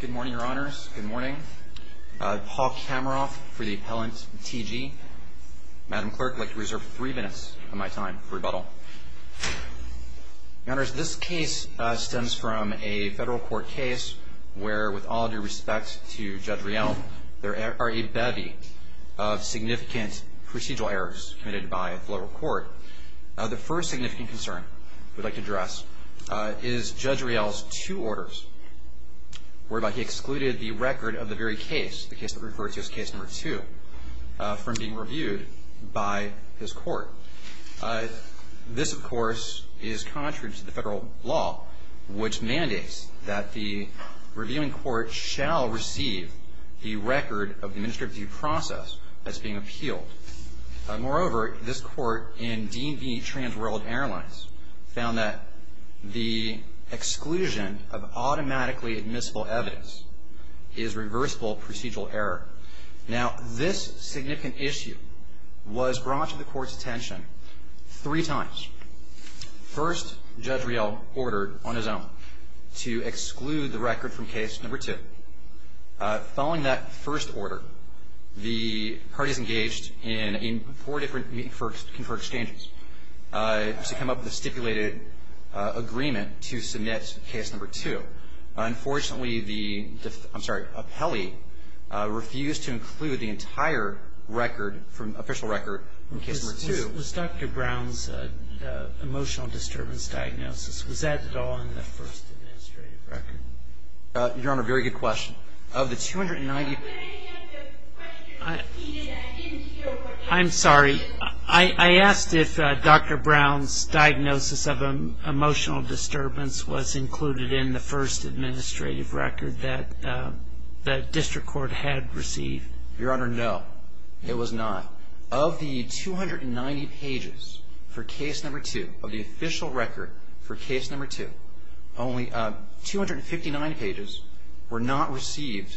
Good morning, Your Honors. Good morning. Paul Kamaroff for the Appellant T. G. Madam Clerk, I'd like to reserve three minutes of my time for rebuttal. Your Honors, this case stems from a federal court case where, with all due respect to Judge Riel, there are a bevy of significant procedural errors committed by the local court. The first significant concern we'd like to address is Judge Riel's two orders whereby he excluded the record of the very case, the case that we refer to as Case No. 2, from being reviewed by his court. This, of course, is contrary to the federal law, which mandates that the reviewing court shall receive the record of the administrative review process that's being appealed. Moreover, this court in Dean v. Trans World Airlines found that the exclusion of automatically admissible evidence is reversible procedural error. Now, this significant issue was brought to the court's attention three times. First, Judge Riel ordered on his own to exclude the record from Case No. 2. Following that first order, the parties engaged in four different meetings for exchanges to come up with a stipulated agreement to submit Case No. 2. Unfortunately, the appellee refused to include the entire record, official record, in Case No. 2. Was Dr. Brown's emotional disturbance diagnosis, was that at all in the first administrative record? Your Honor, very good question. Of the 290... Could I have the question repeated? I didn't hear what you said. I'm sorry. I asked if Dr. Brown's diagnosis of emotional disturbance was included in the first administrative record that the district court had received. Your Honor, no. It was not. Your Honor, of the 290 pages for Case No. 2, of the official record for Case No. 2, only 259 pages were not received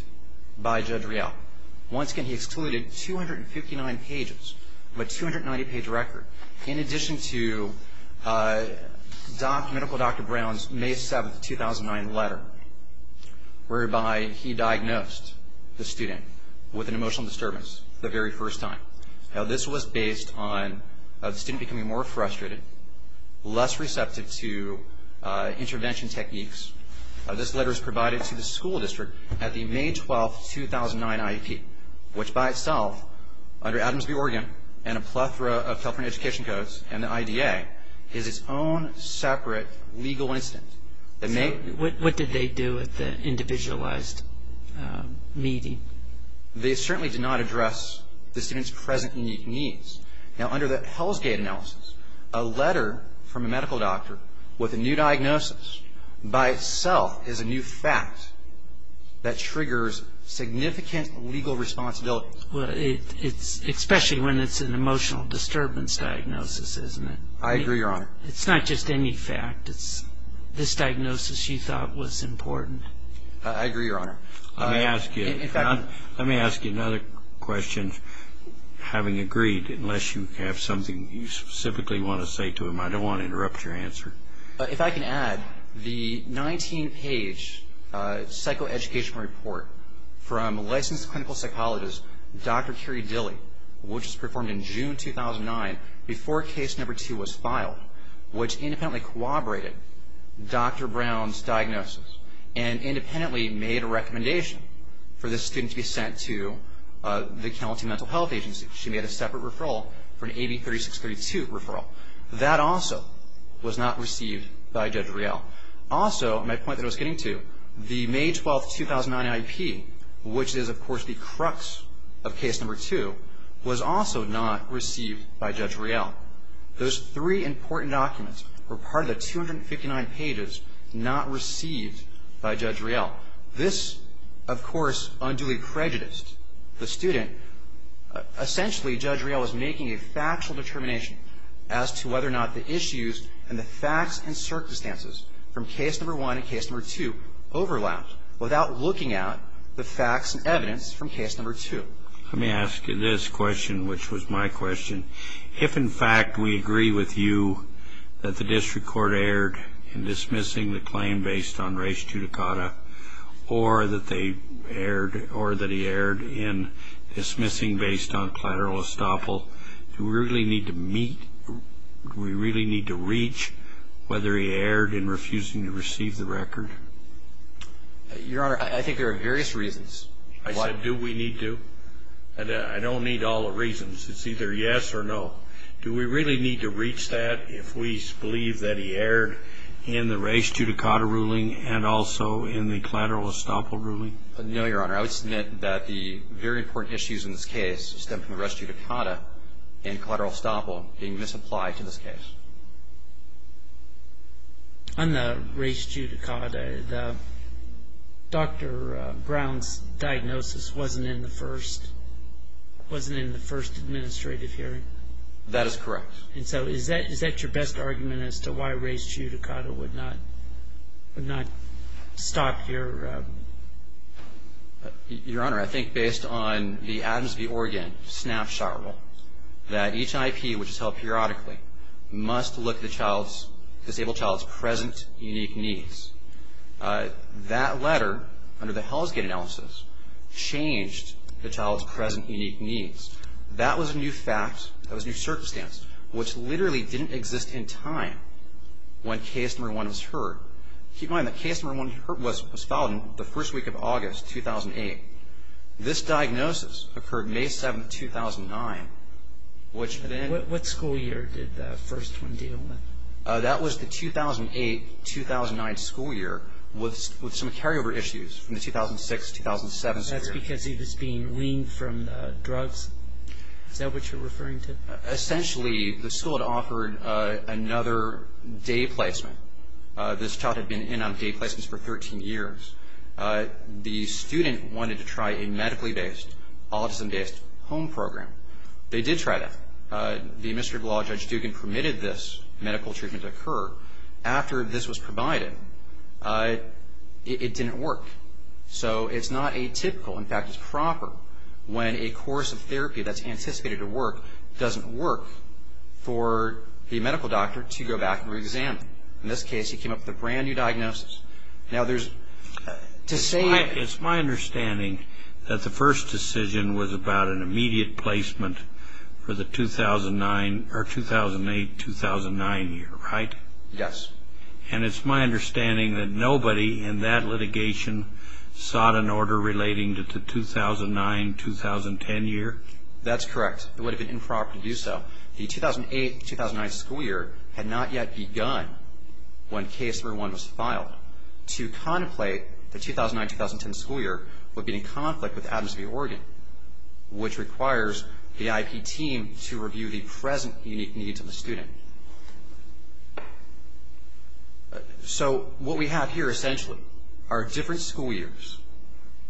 by Judge Riel. Once again, he excluded 259 pages of a 290-page record, in addition to medical Dr. Brown's May 7, 2009 letter, whereby he diagnosed the student with an emotional disturbance the very first time. Now, this was based on the student becoming more frustrated, less receptive to intervention techniques. This letter was provided to the school district at the May 12, 2009 IEP, which by itself, under Adams v. Oregon and a plethora of California education codes and the IDA, is its own separate legal incident. What did they do at the individualized meeting? They certainly did not address the student's present unique needs. Now, under the Hellsgate analysis, a letter from a medical doctor with a new diagnosis, by itself, is a new fact that triggers significant legal responsibility. Especially when it's an emotional disturbance diagnosis, isn't it? I agree, Your Honor. It's not just any fact. It's this diagnosis you thought was important. I agree, Your Honor. Let me ask you another question, having agreed, unless you have something you specifically want to say to him. I don't want to interrupt your answer. If I can add, the 19-page psychoeducational report from licensed clinical psychologist Dr. Kerry Dilley, which was performed in June 2009 before case number two was filed, which independently corroborated Dr. Brown's diagnosis and independently made a recommendation for this student to be sent to the County Mental Health Agency. She made a separate referral for an AB 3632 referral. That also was not received by Judge Riel. Also, my point that I was getting to, the May 12, 2009 IEP, which is, of course, the crux of case number two, was also not received by Judge Riel. Those three important documents were part of the 259 pages not received by Judge Riel. This, of course, unduly prejudiced the student. Essentially, Judge Riel was making a factual determination as to whether or not the issues and the facts and circumstances from case number one and case number two overlapped without looking at the facts and evidence from case number two. Let me ask you this question, which was my question. If, in fact, we agree with you that the district court erred in dismissing the claim based on race judicata or that he erred in dismissing based on collateral estoppel, do we really need to reach whether he erred in refusing to receive the record? Your Honor, I think there are various reasons. I said, do we need to? I don't need all the reasons. It's either yes or no. Do we really need to reach that if we believe that he erred in the race judicata ruling and also in the collateral estoppel ruling? No, Your Honor. I would submit that the very important issues in this case stem from the race judicata and collateral estoppel being misapplied to this case. On the race judicata, Dr. Brown's diagnosis wasn't in the first administrative hearing. That is correct. And so is that your best argument as to why race judicata would not stop your ---- Your Honor, I think based on the Adams v. Oregon snapshot rule that each IP, which is held periodically, must look at the disabled child's present unique needs. That letter, under the Hellsgate analysis, changed the child's present unique needs. That was a new fact, that was a new circumstance, which literally didn't exist in time when Case No. 1 was heard. Keep in mind that Case No. 1 was filed in the first week of August 2008. This diagnosis occurred May 7, 2009, which then ---- What school year did the first one deal with? That was the 2008-2009 school year with some carryover issues from the 2006-2007 school year. That's because he was being weaned from drugs? Is that what you're referring to? Essentially, the school had offered another day placement. This child had been in on day placements for 13 years. The student wanted to try a medically-based, autism-based home program. They did try that. The administrative law, Judge Dugan, permitted this medical treatment to occur. After this was provided, it didn't work. So it's not atypical. In fact, it's proper when a course of therapy that's anticipated to work doesn't work, for the medical doctor to go back and reexamine. In this case, he came up with a brand-new diagnosis. Now, there's ---- It's my understanding that the first decision was about an immediate placement for the 2008-2009 year, right? Yes. And it's my understanding that nobody in that litigation sought an order relating to the 2009-2010 year? That's correct. It would have been improper to do so. Now, the 2008-2009 school year had not yet begun when Case No. 1 was filed. To contemplate the 2009-2010 school year would be in conflict with Adams v. Oregon, which requires the IP team to review the present unique needs of the student. So what we have here, essentially, are different school years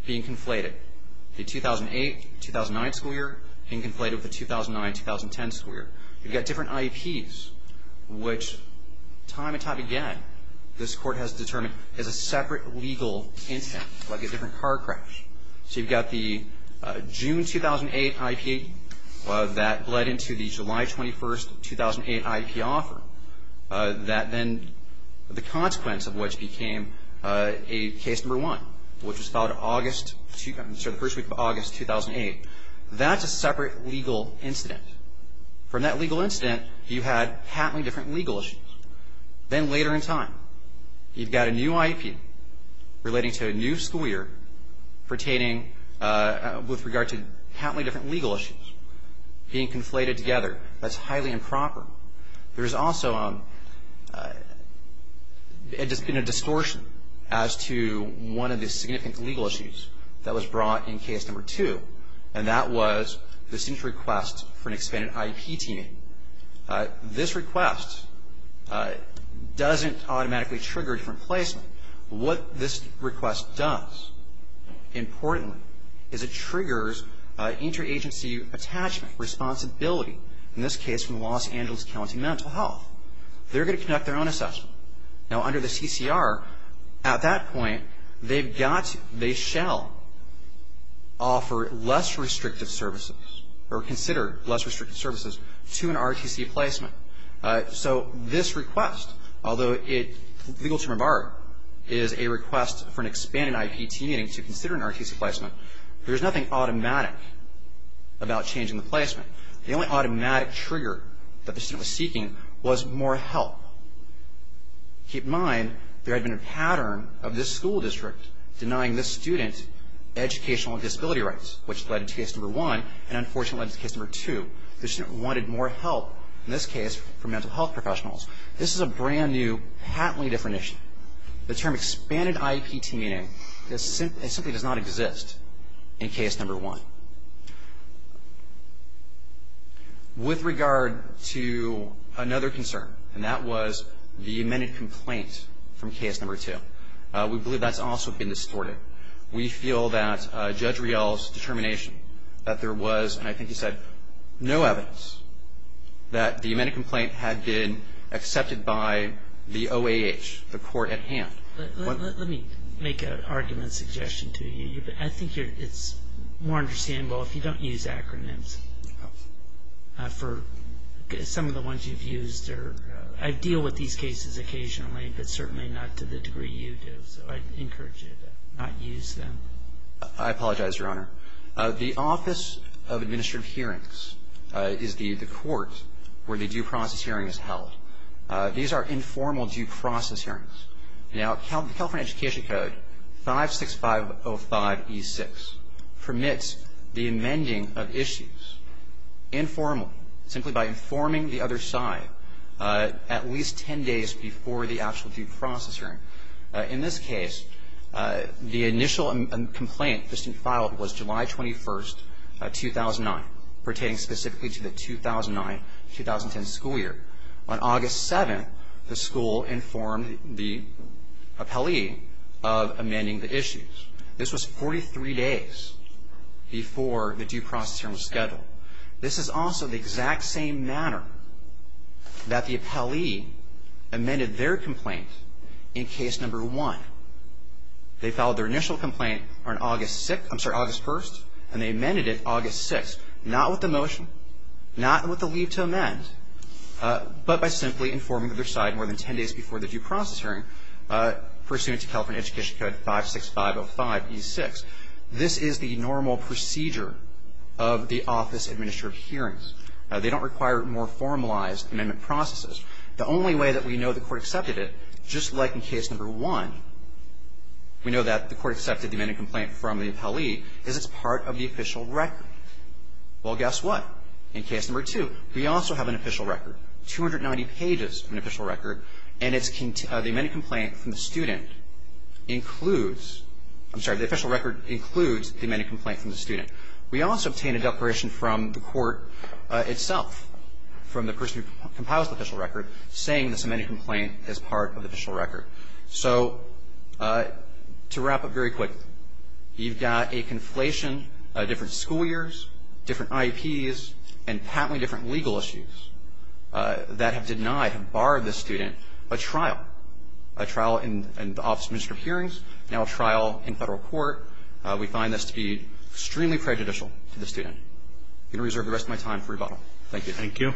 being conflated, the 2008-2009 school year in conflict with the 2009-2010 school year. You've got different IEPs, which time and time again this Court has determined is a separate legal instance, like a different car crash. So you've got the June 2008 IEP that led into the July 21st 2008 IEP offer, that then the consequence of which became a Case No. 1, which was filed the first week of August 2008. That's a separate legal incident. From that legal incident, you had happening different legal issues. Then later in time, you've got a new IEP relating to a new school year pertaining with regard to happening different legal issues being conflated together. That's highly improper. There's also been a distortion as to one of the significant legal issues that was brought in Case No. 2, and that was the student's request for an expanded IEP team. This request doesn't automatically trigger a different placement. What this request does, importantly, is it triggers interagency attachment, responsibility, in this case from the Los Angeles County Mental Health. They're going to conduct their own assessment. Now, under the CCR, at that point, they've got to, they shall offer less restrictive services or consider less restrictive services to an ROTC placement. So this request, although it, legal term of art, is a request for an expanded IEP team meeting to consider an ROTC placement, there's nothing automatic about changing the placement. The only automatic trigger that the student was seeking was more help. Keep in mind, there had been a pattern of this school district denying this student educational and disability rights, which led to Case No. 1, and unfortunately led to Case No. 2. The student wanted more help, in this case, from mental health professionals. This is a brand new, patently different issue. The term expanded IEP team meeting simply does not exist in Case No. 1. With regard to another concern, and that was the amended complaint from Case No. 2, we believe that's also been distorted. We feel that Judge Riel's determination that there was, and I think he said no evidence, that the amended complaint had been accepted by the OAH, the court at hand. Let me make an argument suggestion to you. I think it's more understandable if you don't use acronyms for some of the ones you've used. I deal with these cases occasionally, but certainly not to the degree you do, so I encourage you to not use them. I apologize, Your Honor. The Office of Administrative Hearings is the court where the due process hearing is held. These are informal due process hearings. Now, the California Education Code, 56505E6, permits the amending of issues informally, simply by informing the other side at least ten days before the actual due process hearing. In this case, the initial complaint that's been filed was July 21st, 2009, pertaining specifically to the 2009-2010 school year. On August 7th, the school informed the appellee of amending the issues. This was 43 days before the due process hearing was scheduled. This is also the exact same manner that the appellee amended their complaint in Case No. 1. They filed their initial complaint on August 6th, I'm sorry, August 1st, and they amended it August 6th, not with the motion, not with the leave to amend, but by simply informing the other side more than ten days before the due process hearing, pursuant to California Education Code, 56505E6. This is the normal procedure of the office administrative hearings. They don't require more formalized amendment processes. The only way that we know the Court accepted it, just like in Case No. 1, we know that the Court accepted the amended complaint from the appellee, is it's part of the official record. Well, guess what? In Case No. 2, we also have an official record, 290 pages of an official record, and the amended complaint from the student includes, I'm sorry, the official record includes the amended complaint from the student. We also obtain a declaration from the Court itself, from the person who compiles the official record, saying this amended complaint is part of the official record. So to wrap up very quick, you've got a conflation of different school years, different IEPs, and patently different legal issues that have denied, have barred the student a trial, a trial in the office administrative hearings, now a trial in Federal court. We find this to be extremely prejudicial to the student. I'm going to reserve the rest of my time for rebuttal. Thank you. Thank you.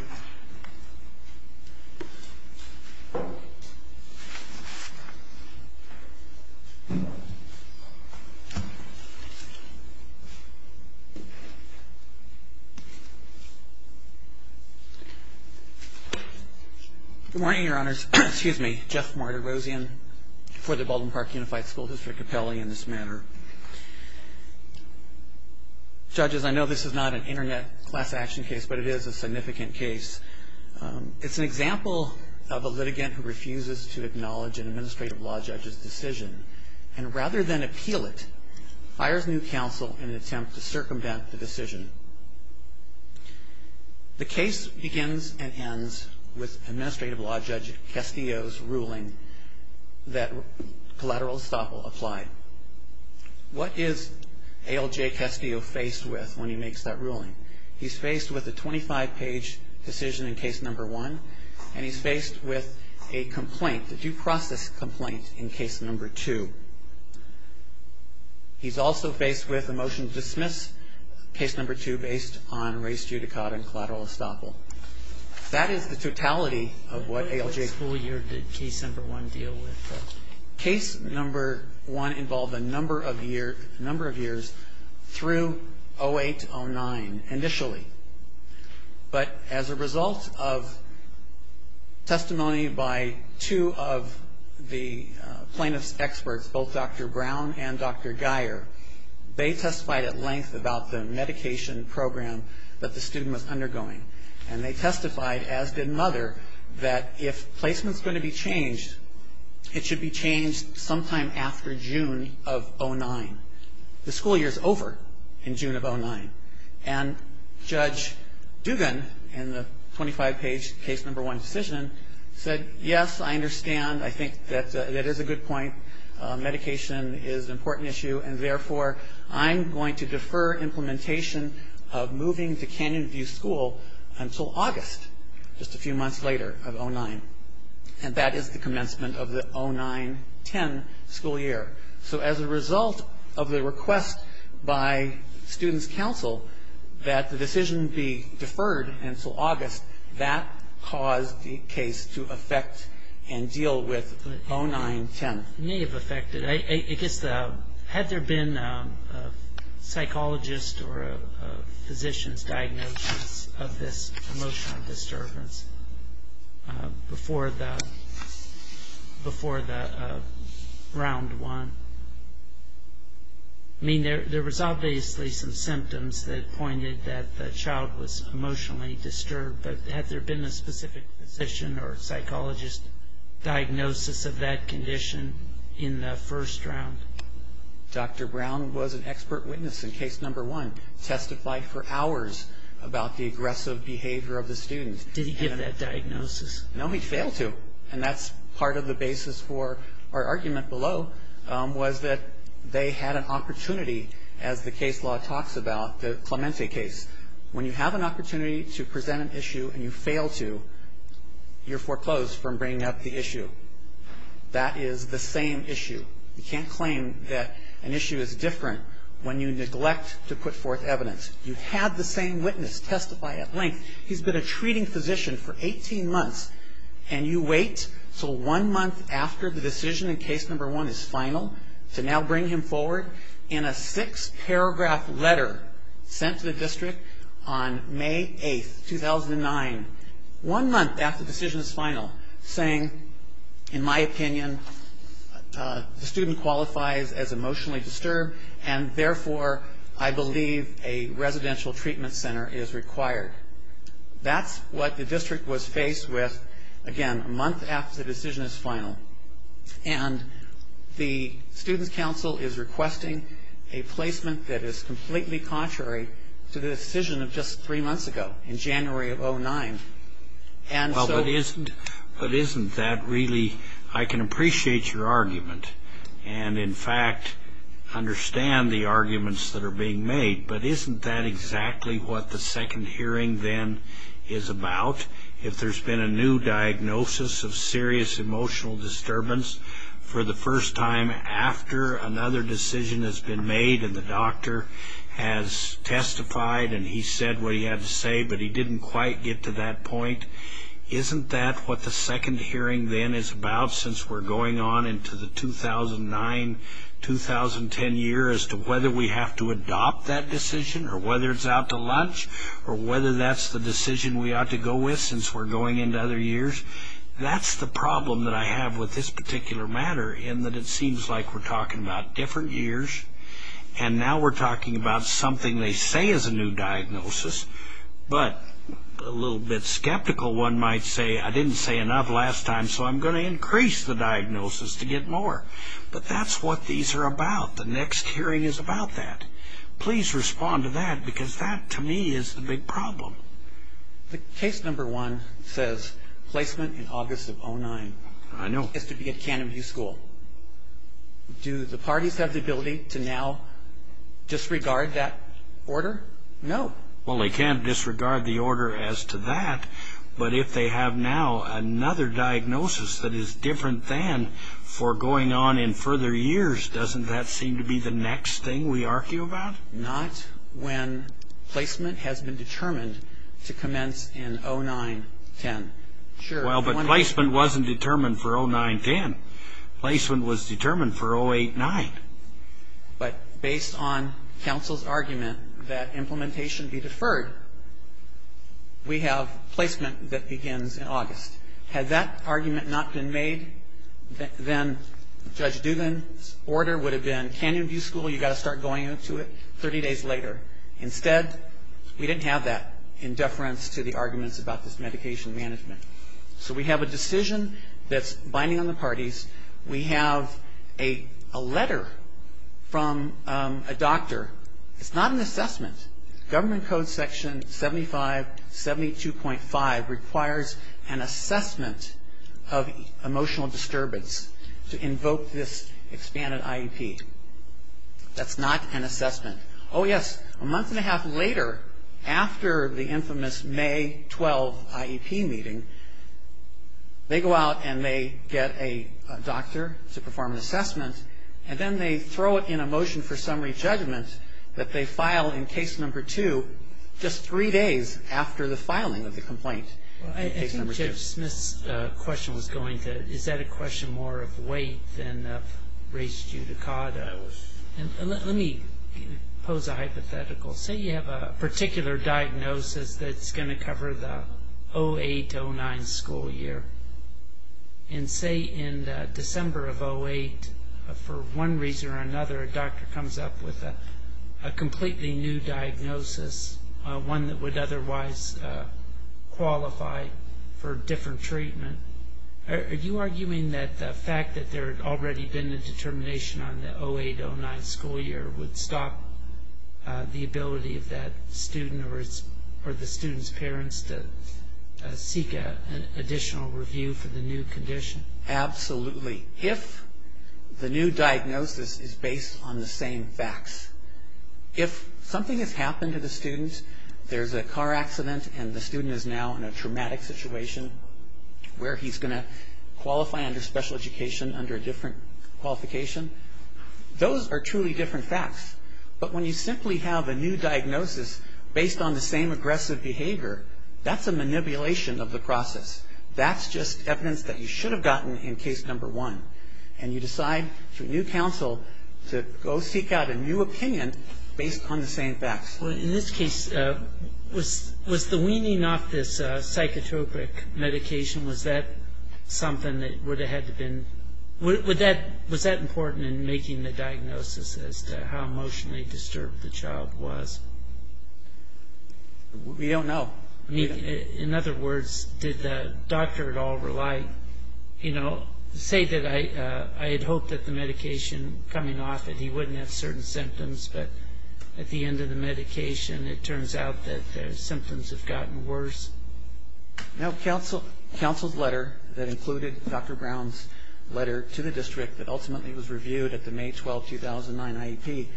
Good morning, Your Honors. Excuse me, Jeff Martirosian for the Baldwin Park Unified School District appellee in this matter. Judges, I know this is not an internet class action case, but it is a significant case. It's an example of a litigant who refuses to acknowledge an administrative law judge's decision, and rather than appeal it, fires new counsel in an attempt to circumvent the decision. The case begins and ends with administrative law judge Castillo's ruling that collateral estoppel applied. What is ALJ Castillo faced with when he makes that ruling? He's faced with a 25-page decision in case number one, and he's faced with a complaint, a due process complaint in case number two. He's also faced with a motion to dismiss case number two based on race, judicata, and collateral estoppel. That is the totality of what ALJ Castillo. What school year did case number one deal with? Case number one involved a number of years through 08-09 initially. But as a result of testimony by two of the plaintiff's experts, both Dr. Brown and Dr. Guyer, they testified at length about the medication program that the student was undergoing, and they testified, as did Mother, that if placement's going to be changed, it should be changed sometime after June of 09. The school year's over in June of 09. And Judge Dugan, in the 25-page case number one decision, said, yes, I understand. I think that that is a good point. Medication is an important issue, and, therefore, I'm going to defer implementation of moving to Canyon View School until August, just a few months later of 09. And that is the commencement of the 09-10 school year. So as a result of the request by student's counsel that the decision be deferred until August, that caused the case to affect and deal with 09-10. It may have affected. I guess had there been a psychologist or a physician's diagnosis of this emotional disturbance before the round one, I mean, there was obviously some symptoms that pointed that the child was emotionally disturbed, but had there been a specific physician or psychologist's diagnosis of that condition in the first round? Dr. Brown was an expert witness in case number one, testified for hours about the aggressive behavior of the student. Did he give that diagnosis? No, he failed to. And that's part of the basis for our argument below was that they had an opportunity, as the case law talks about, the Clemente case. When you have an opportunity to present an issue and you fail to, you're foreclosed from bringing up the issue. That is the same issue. You can't claim that an issue is different when you neglect to put forth evidence. You had the same witness testify at length. He's been a treating physician for 18 months, and you wait until one month after the decision in case number one is final to now bring him forward in a six-paragraph letter sent to the district on May 8th, 2009, one month after the decision is final, saying, in my opinion, the student qualifies as emotionally disturbed and, therefore, I believe a residential treatment center is required. That's what the district was faced with, again, a month after the decision is final. And the student's council is requesting a placement that is completely contrary to the decision of just three months ago in January of 2009. And so isn't that really, I can appreciate your argument and, in fact, understand the arguments that are being made, but isn't that exactly what the second hearing then is about? If there's been a new diagnosis of serious emotional disturbance for the first time after another decision has been made and the doctor has testified and he said what he had to say but he didn't quite get to that point, isn't that what the second hearing then is about since we're going on into the 2009-2010 year as to whether we have to adopt that decision or whether it's out to lunch or whether that's the decision we ought to go with since we're going into other years? That's the problem that I have with this particular matter in that it seems like we're talking about different years and now we're talking about something they say is a new diagnosis, but a little bit skeptical one might say I didn't say enough last time so I'm going to increase the diagnosis to get more. But that's what these are about. The next hearing is about that. Please respond to that because that to me is the big problem. The case number one says placement in August of 2009. I know. Has to be at Canterbury School. Do the parties have the ability to now disregard that order? No. Well, they can't disregard the order as to that, but if they have now another diagnosis that is different than for going on in further years, doesn't that seem to be the next thing we argue about? Not when placement has been determined to commence in 09-10. Sure. Well, but placement wasn't determined for 09-10. Placement was determined for 08-9. But based on counsel's argument that implementation be deferred, we have placement that begins in August. Had that argument not been made, then Judge Dugan's order would have been Canyon View School, you've got to start going to it 30 days later. Instead, we didn't have that in deference to the arguments about this medication management. So we have a decision that's binding on the parties. We have a letter from a doctor. It's not an assessment. Government Code Section 7572.5 requires an assessment of emotional disturbance to invoke this expanded IEP. That's not an assessment. Oh, yes, a month and a half later, after the infamous May 12 IEP meeting, they go out and they get a doctor to perform an assessment, and then they throw it in a motion for summary judgment that they file in case number two just three days after the filing of the complaint. I think Judge Smith's question was going to, is that a question more of weight than of race judicata? Let me pose a hypothetical. Say you have a particular diagnosis that's going to cover the 08-09 school year, and say in December of 08, for one reason or another, a doctor comes up with a completely new diagnosis, one that would otherwise qualify for different treatment. Are you arguing that the fact that there had already been a determination on the 08-09 school year would stop the ability of that student or the student's parents to seek an additional review for the new condition? Absolutely. If the new diagnosis is based on the same facts, if something has happened to the student, there's a car accident and the student is now in a traumatic situation where he's going to qualify under special education under a different qualification, those are truly different facts. But when you simply have a new diagnosis based on the same aggressive behavior, that's a manipulation of the process. That's just evidence that you should have gotten in case number one. And you decide through new counsel to go seek out a new opinion based on the same facts. Well, in this case, was the weaning off this psychotropic medication, was that something that would have had to been, was that important in making the diagnosis as to how emotionally disturbed the child was? We don't know. In other words, did the doctor at all say that I had hoped that the medication coming off it, he wouldn't have certain symptoms, but at the end of the medication, it turns out that the symptoms have gotten worse? Now, counsel's letter that included Dr. Brown's letter to the district that ultimately was reviewed at the May 12, 2009 IEP.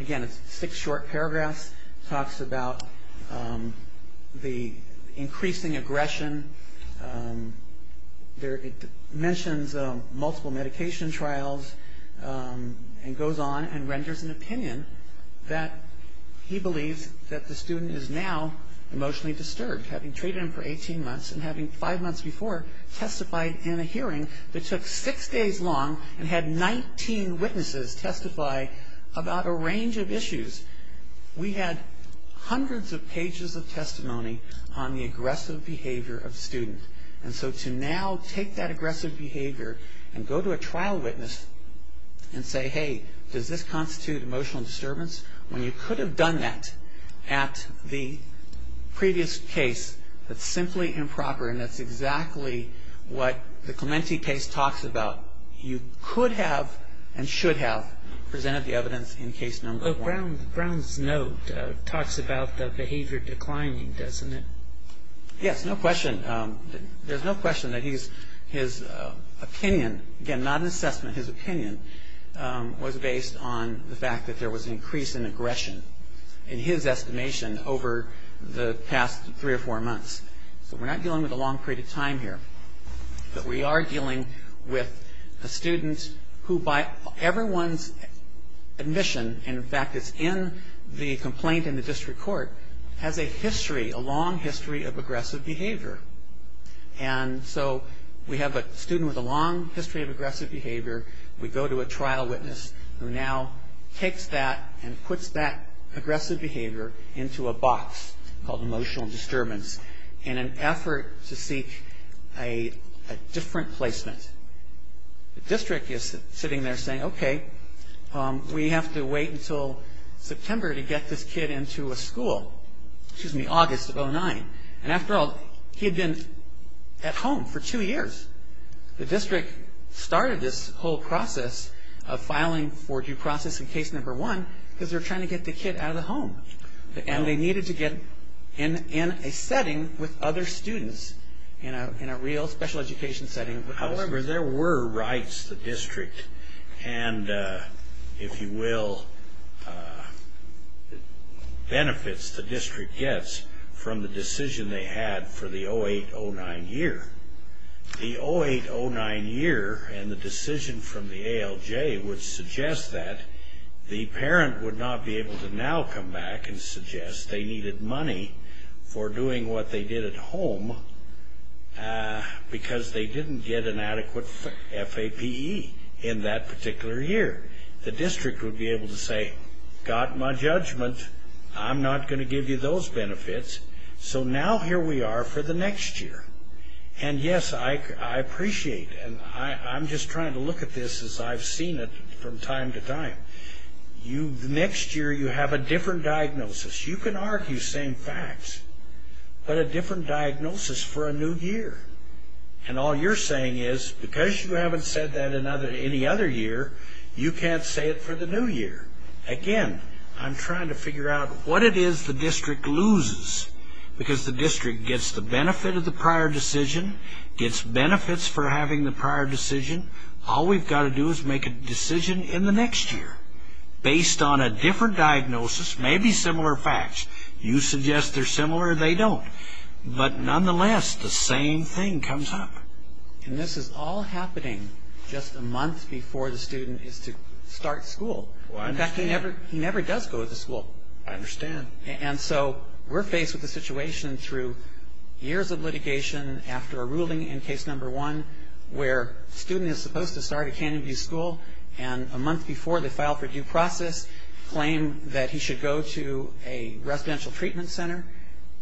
Again, it's six short paragraphs. It talks about the increasing aggression. It mentions multiple medication trials and goes on and renders an opinion that he believes that the student is now emotionally disturbed, having treated him for 18 months and having five months before testified in a hearing that took six days long and had 19 witnesses testify about a range of issues. We had hundreds of pages of testimony on the aggressive behavior of the student. And so to now take that aggressive behavior and go to a trial witness and say, hey, does this constitute emotional disturbance? When you could have done that at the previous case that's simply improper and that's exactly what the Clementi case talks about, you could have and should have presented the evidence in case number one. Brown's note talks about the behavior declining, doesn't it? Yes, no question. There's no question that his opinion, again, not an assessment, his opinion, was based on the fact that there was an increase in aggression, in his estimation, over the past three or four months. So we're not dealing with a long period of time here, but we are dealing with a student who by everyone's admission, and in fact it's in the complaint in the district court, has a history, a long history of aggressive behavior. And so we have a student with a long history of aggressive behavior. We go to a trial witness who now takes that and puts that aggressive behavior into a box called emotional disturbance in an effort to seek a different placement. The district is sitting there saying, okay, we have to wait until September to get this kid into a school. Excuse me, August of 2009. And after all, he had been at home for two years. The district started this whole process of filing for due process in case number one because they're trying to get the kid out of the home, and they needed to get in a setting with other students, in a real special education setting. However, there were rights the district, and if you will, benefits the district gets from the decision they had for the 08-09 year. The 08-09 year and the decision from the ALJ would suggest that the parent would not be able to now come back and suggest they needed money for doing what they did at home because they didn't get an adequate FAPE in that particular year. The district would be able to say, got my judgment. I'm not going to give you those benefits. So now here we are for the next year. And, yes, I appreciate, and I'm just trying to look at this as I've seen it from time to time. The next year you have a different diagnosis. You can argue same facts, but a different diagnosis for a new year. And all you're saying is because you haven't said that any other year, you can't say it for the new year. Again, I'm trying to figure out what it is the district loses because the district gets the benefit of the prior decision, gets benefits for having the prior decision. All we've got to do is make a decision in the next year based on a different diagnosis, maybe similar facts. You suggest they're similar, they don't. But nonetheless, the same thing comes up. And this is all happening just a month before the student is to start school. In fact, he never does go to school. I understand. And so we're faced with a situation through years of litigation after a ruling in case number one where a student is supposed to start at Canyon View School, and a month before they file for due process claim that he should go to a residential treatment center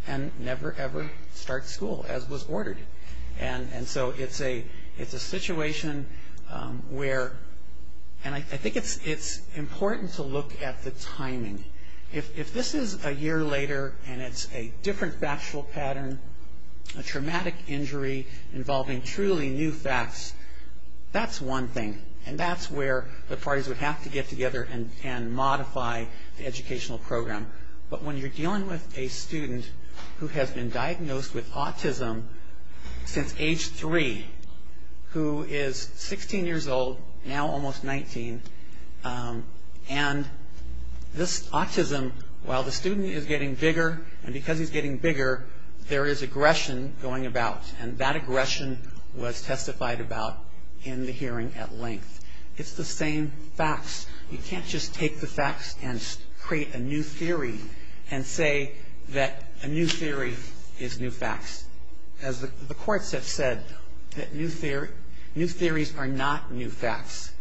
and never, ever start school as was ordered. And so it's a situation where, and I think it's important to look at the timing. If this is a year later and it's a different factual pattern, a traumatic injury involving truly new facts, that's one thing. And that's where the parties would have to get together and modify the educational program. But when you're dealing with a student who has been diagnosed with autism since age three, who is 16 years old, now almost 19, and this autism, while the student is getting bigger, and because he's getting bigger, there is aggression going about. And that aggression was testified about in the hearing at length. It's the same facts. You can't just take the facts and create a new theory and say that a new theory is new facts. As the courts have said, new theories are not new facts.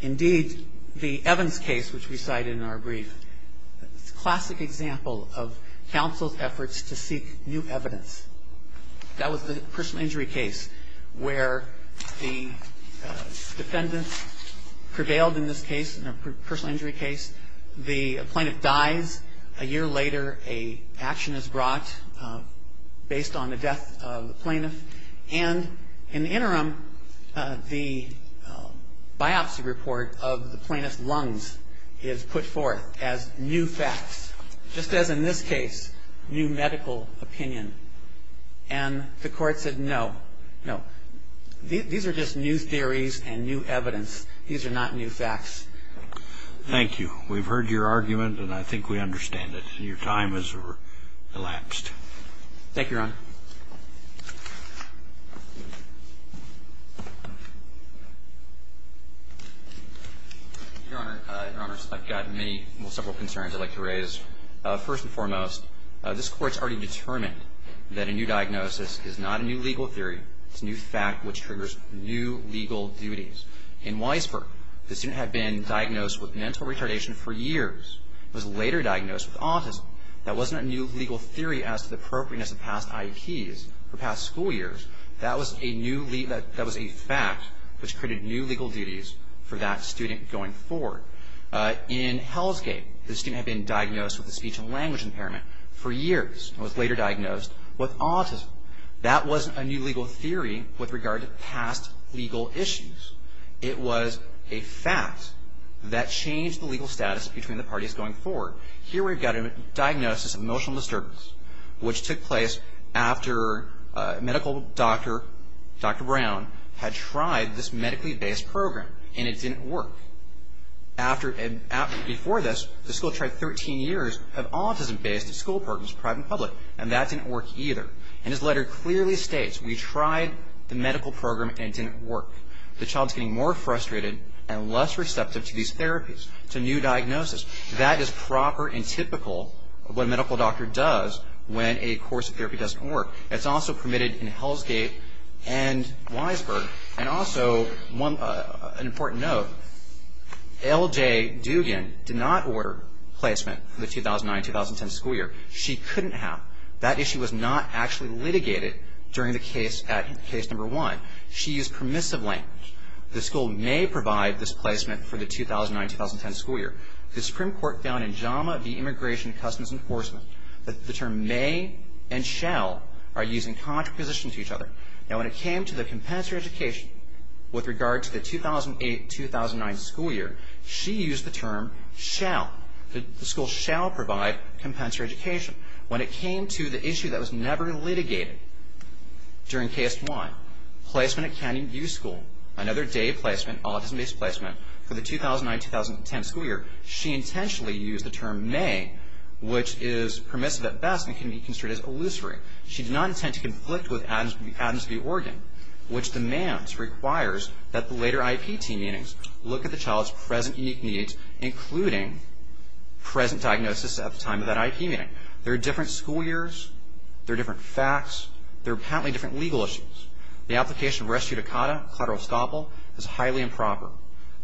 Indeed, the Evans case, which we cited in our brief, is a classic example of counsel's efforts to seek new evidence. That was the personal injury case where the defendant prevailed in this case, in a personal injury case. The plaintiff dies. A year later, an action is brought based on the death of the plaintiff. And in the interim, the biopsy report of the plaintiff's lungs is put forth as new facts, just as in this case, new medical opinion. And the court said no, no. These are just new theories and new evidence. These are not new facts. Thank you. We've heard your argument, and I think we understand it. Your time has elapsed. Thank you, Your Honor. Your Honor, I've got several concerns I'd like to raise. First and foremost, this Court's already determined that a new diagnosis is not a new legal theory. It's a new fact which triggers new legal duties. In Weisberg, the student had been diagnosed with mental retardation for years. He was later diagnosed with autism. That wasn't a new legal theory as to the appropriateness of past I.E. keys for past school years. That was a fact which created new legal duties for that student going forward. In Hellsgate, the student had been diagnosed with a speech and language impairment for years and was later diagnosed with autism. That wasn't a new legal theory with regard to past legal issues. It was a fact that changed the legal status between the parties going forward. Here we've got a diagnosis of emotional disturbance which took place after a medical doctor, Dr. Brown, had tried this medically-based program, and it didn't work. Before this, the school tried 13 years of autism-based school programs, private and public, and that didn't work either. And his letter clearly states, we tried the medical program, and it didn't work. The child's getting more frustrated and less receptive to these therapies. It's a new diagnosis. That is proper and typical of what a medical doctor does when a course of therapy doesn't work. It's also permitted in Hellsgate and Weisberg. And also, an important note, L.J. Dugan did not order placement for the 2009-2010 school year. She couldn't have. That issue was not actually litigated during the case at Case No. 1. She used permissive language. The school may provide this placement for the 2009-2010 school year. The Supreme Court found in JAMA v. Immigration and Customs Enforcement that the term may and shall are using contrapositions to each other. Now, when it came to the compensatory education with regard to the 2008-2009 school year, she used the term shall. The school shall provide compensatory education. When it came to the issue that was never litigated during Case 1, placement at Canyon View School, another day placement, autism-based placement, for the 2009-2010 school year, she intentionally used the term may, which is permissive at best and can be considered as illusory. She did not intend to conflict with Adams v. Oregon, which demands, requires, that the later IPT meetings look at the child's present unique needs, including present diagnosis at the time of that IP meeting. There are different school years. There are different facts. There are apparently different legal issues. The application of res judicata cladro estoppel is highly improper,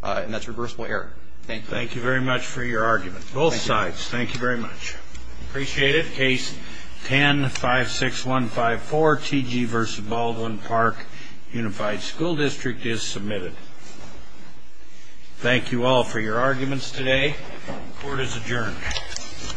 and that's reversible error. Thank you. Thank you very much for your argument. Both sides. Thank you very much. Appreciate it. Case 10-56154, T.G. v. Baldwin Park Unified School District is submitted. Thank you all for your arguments today. Court is adjourned. Thank you. Thank you.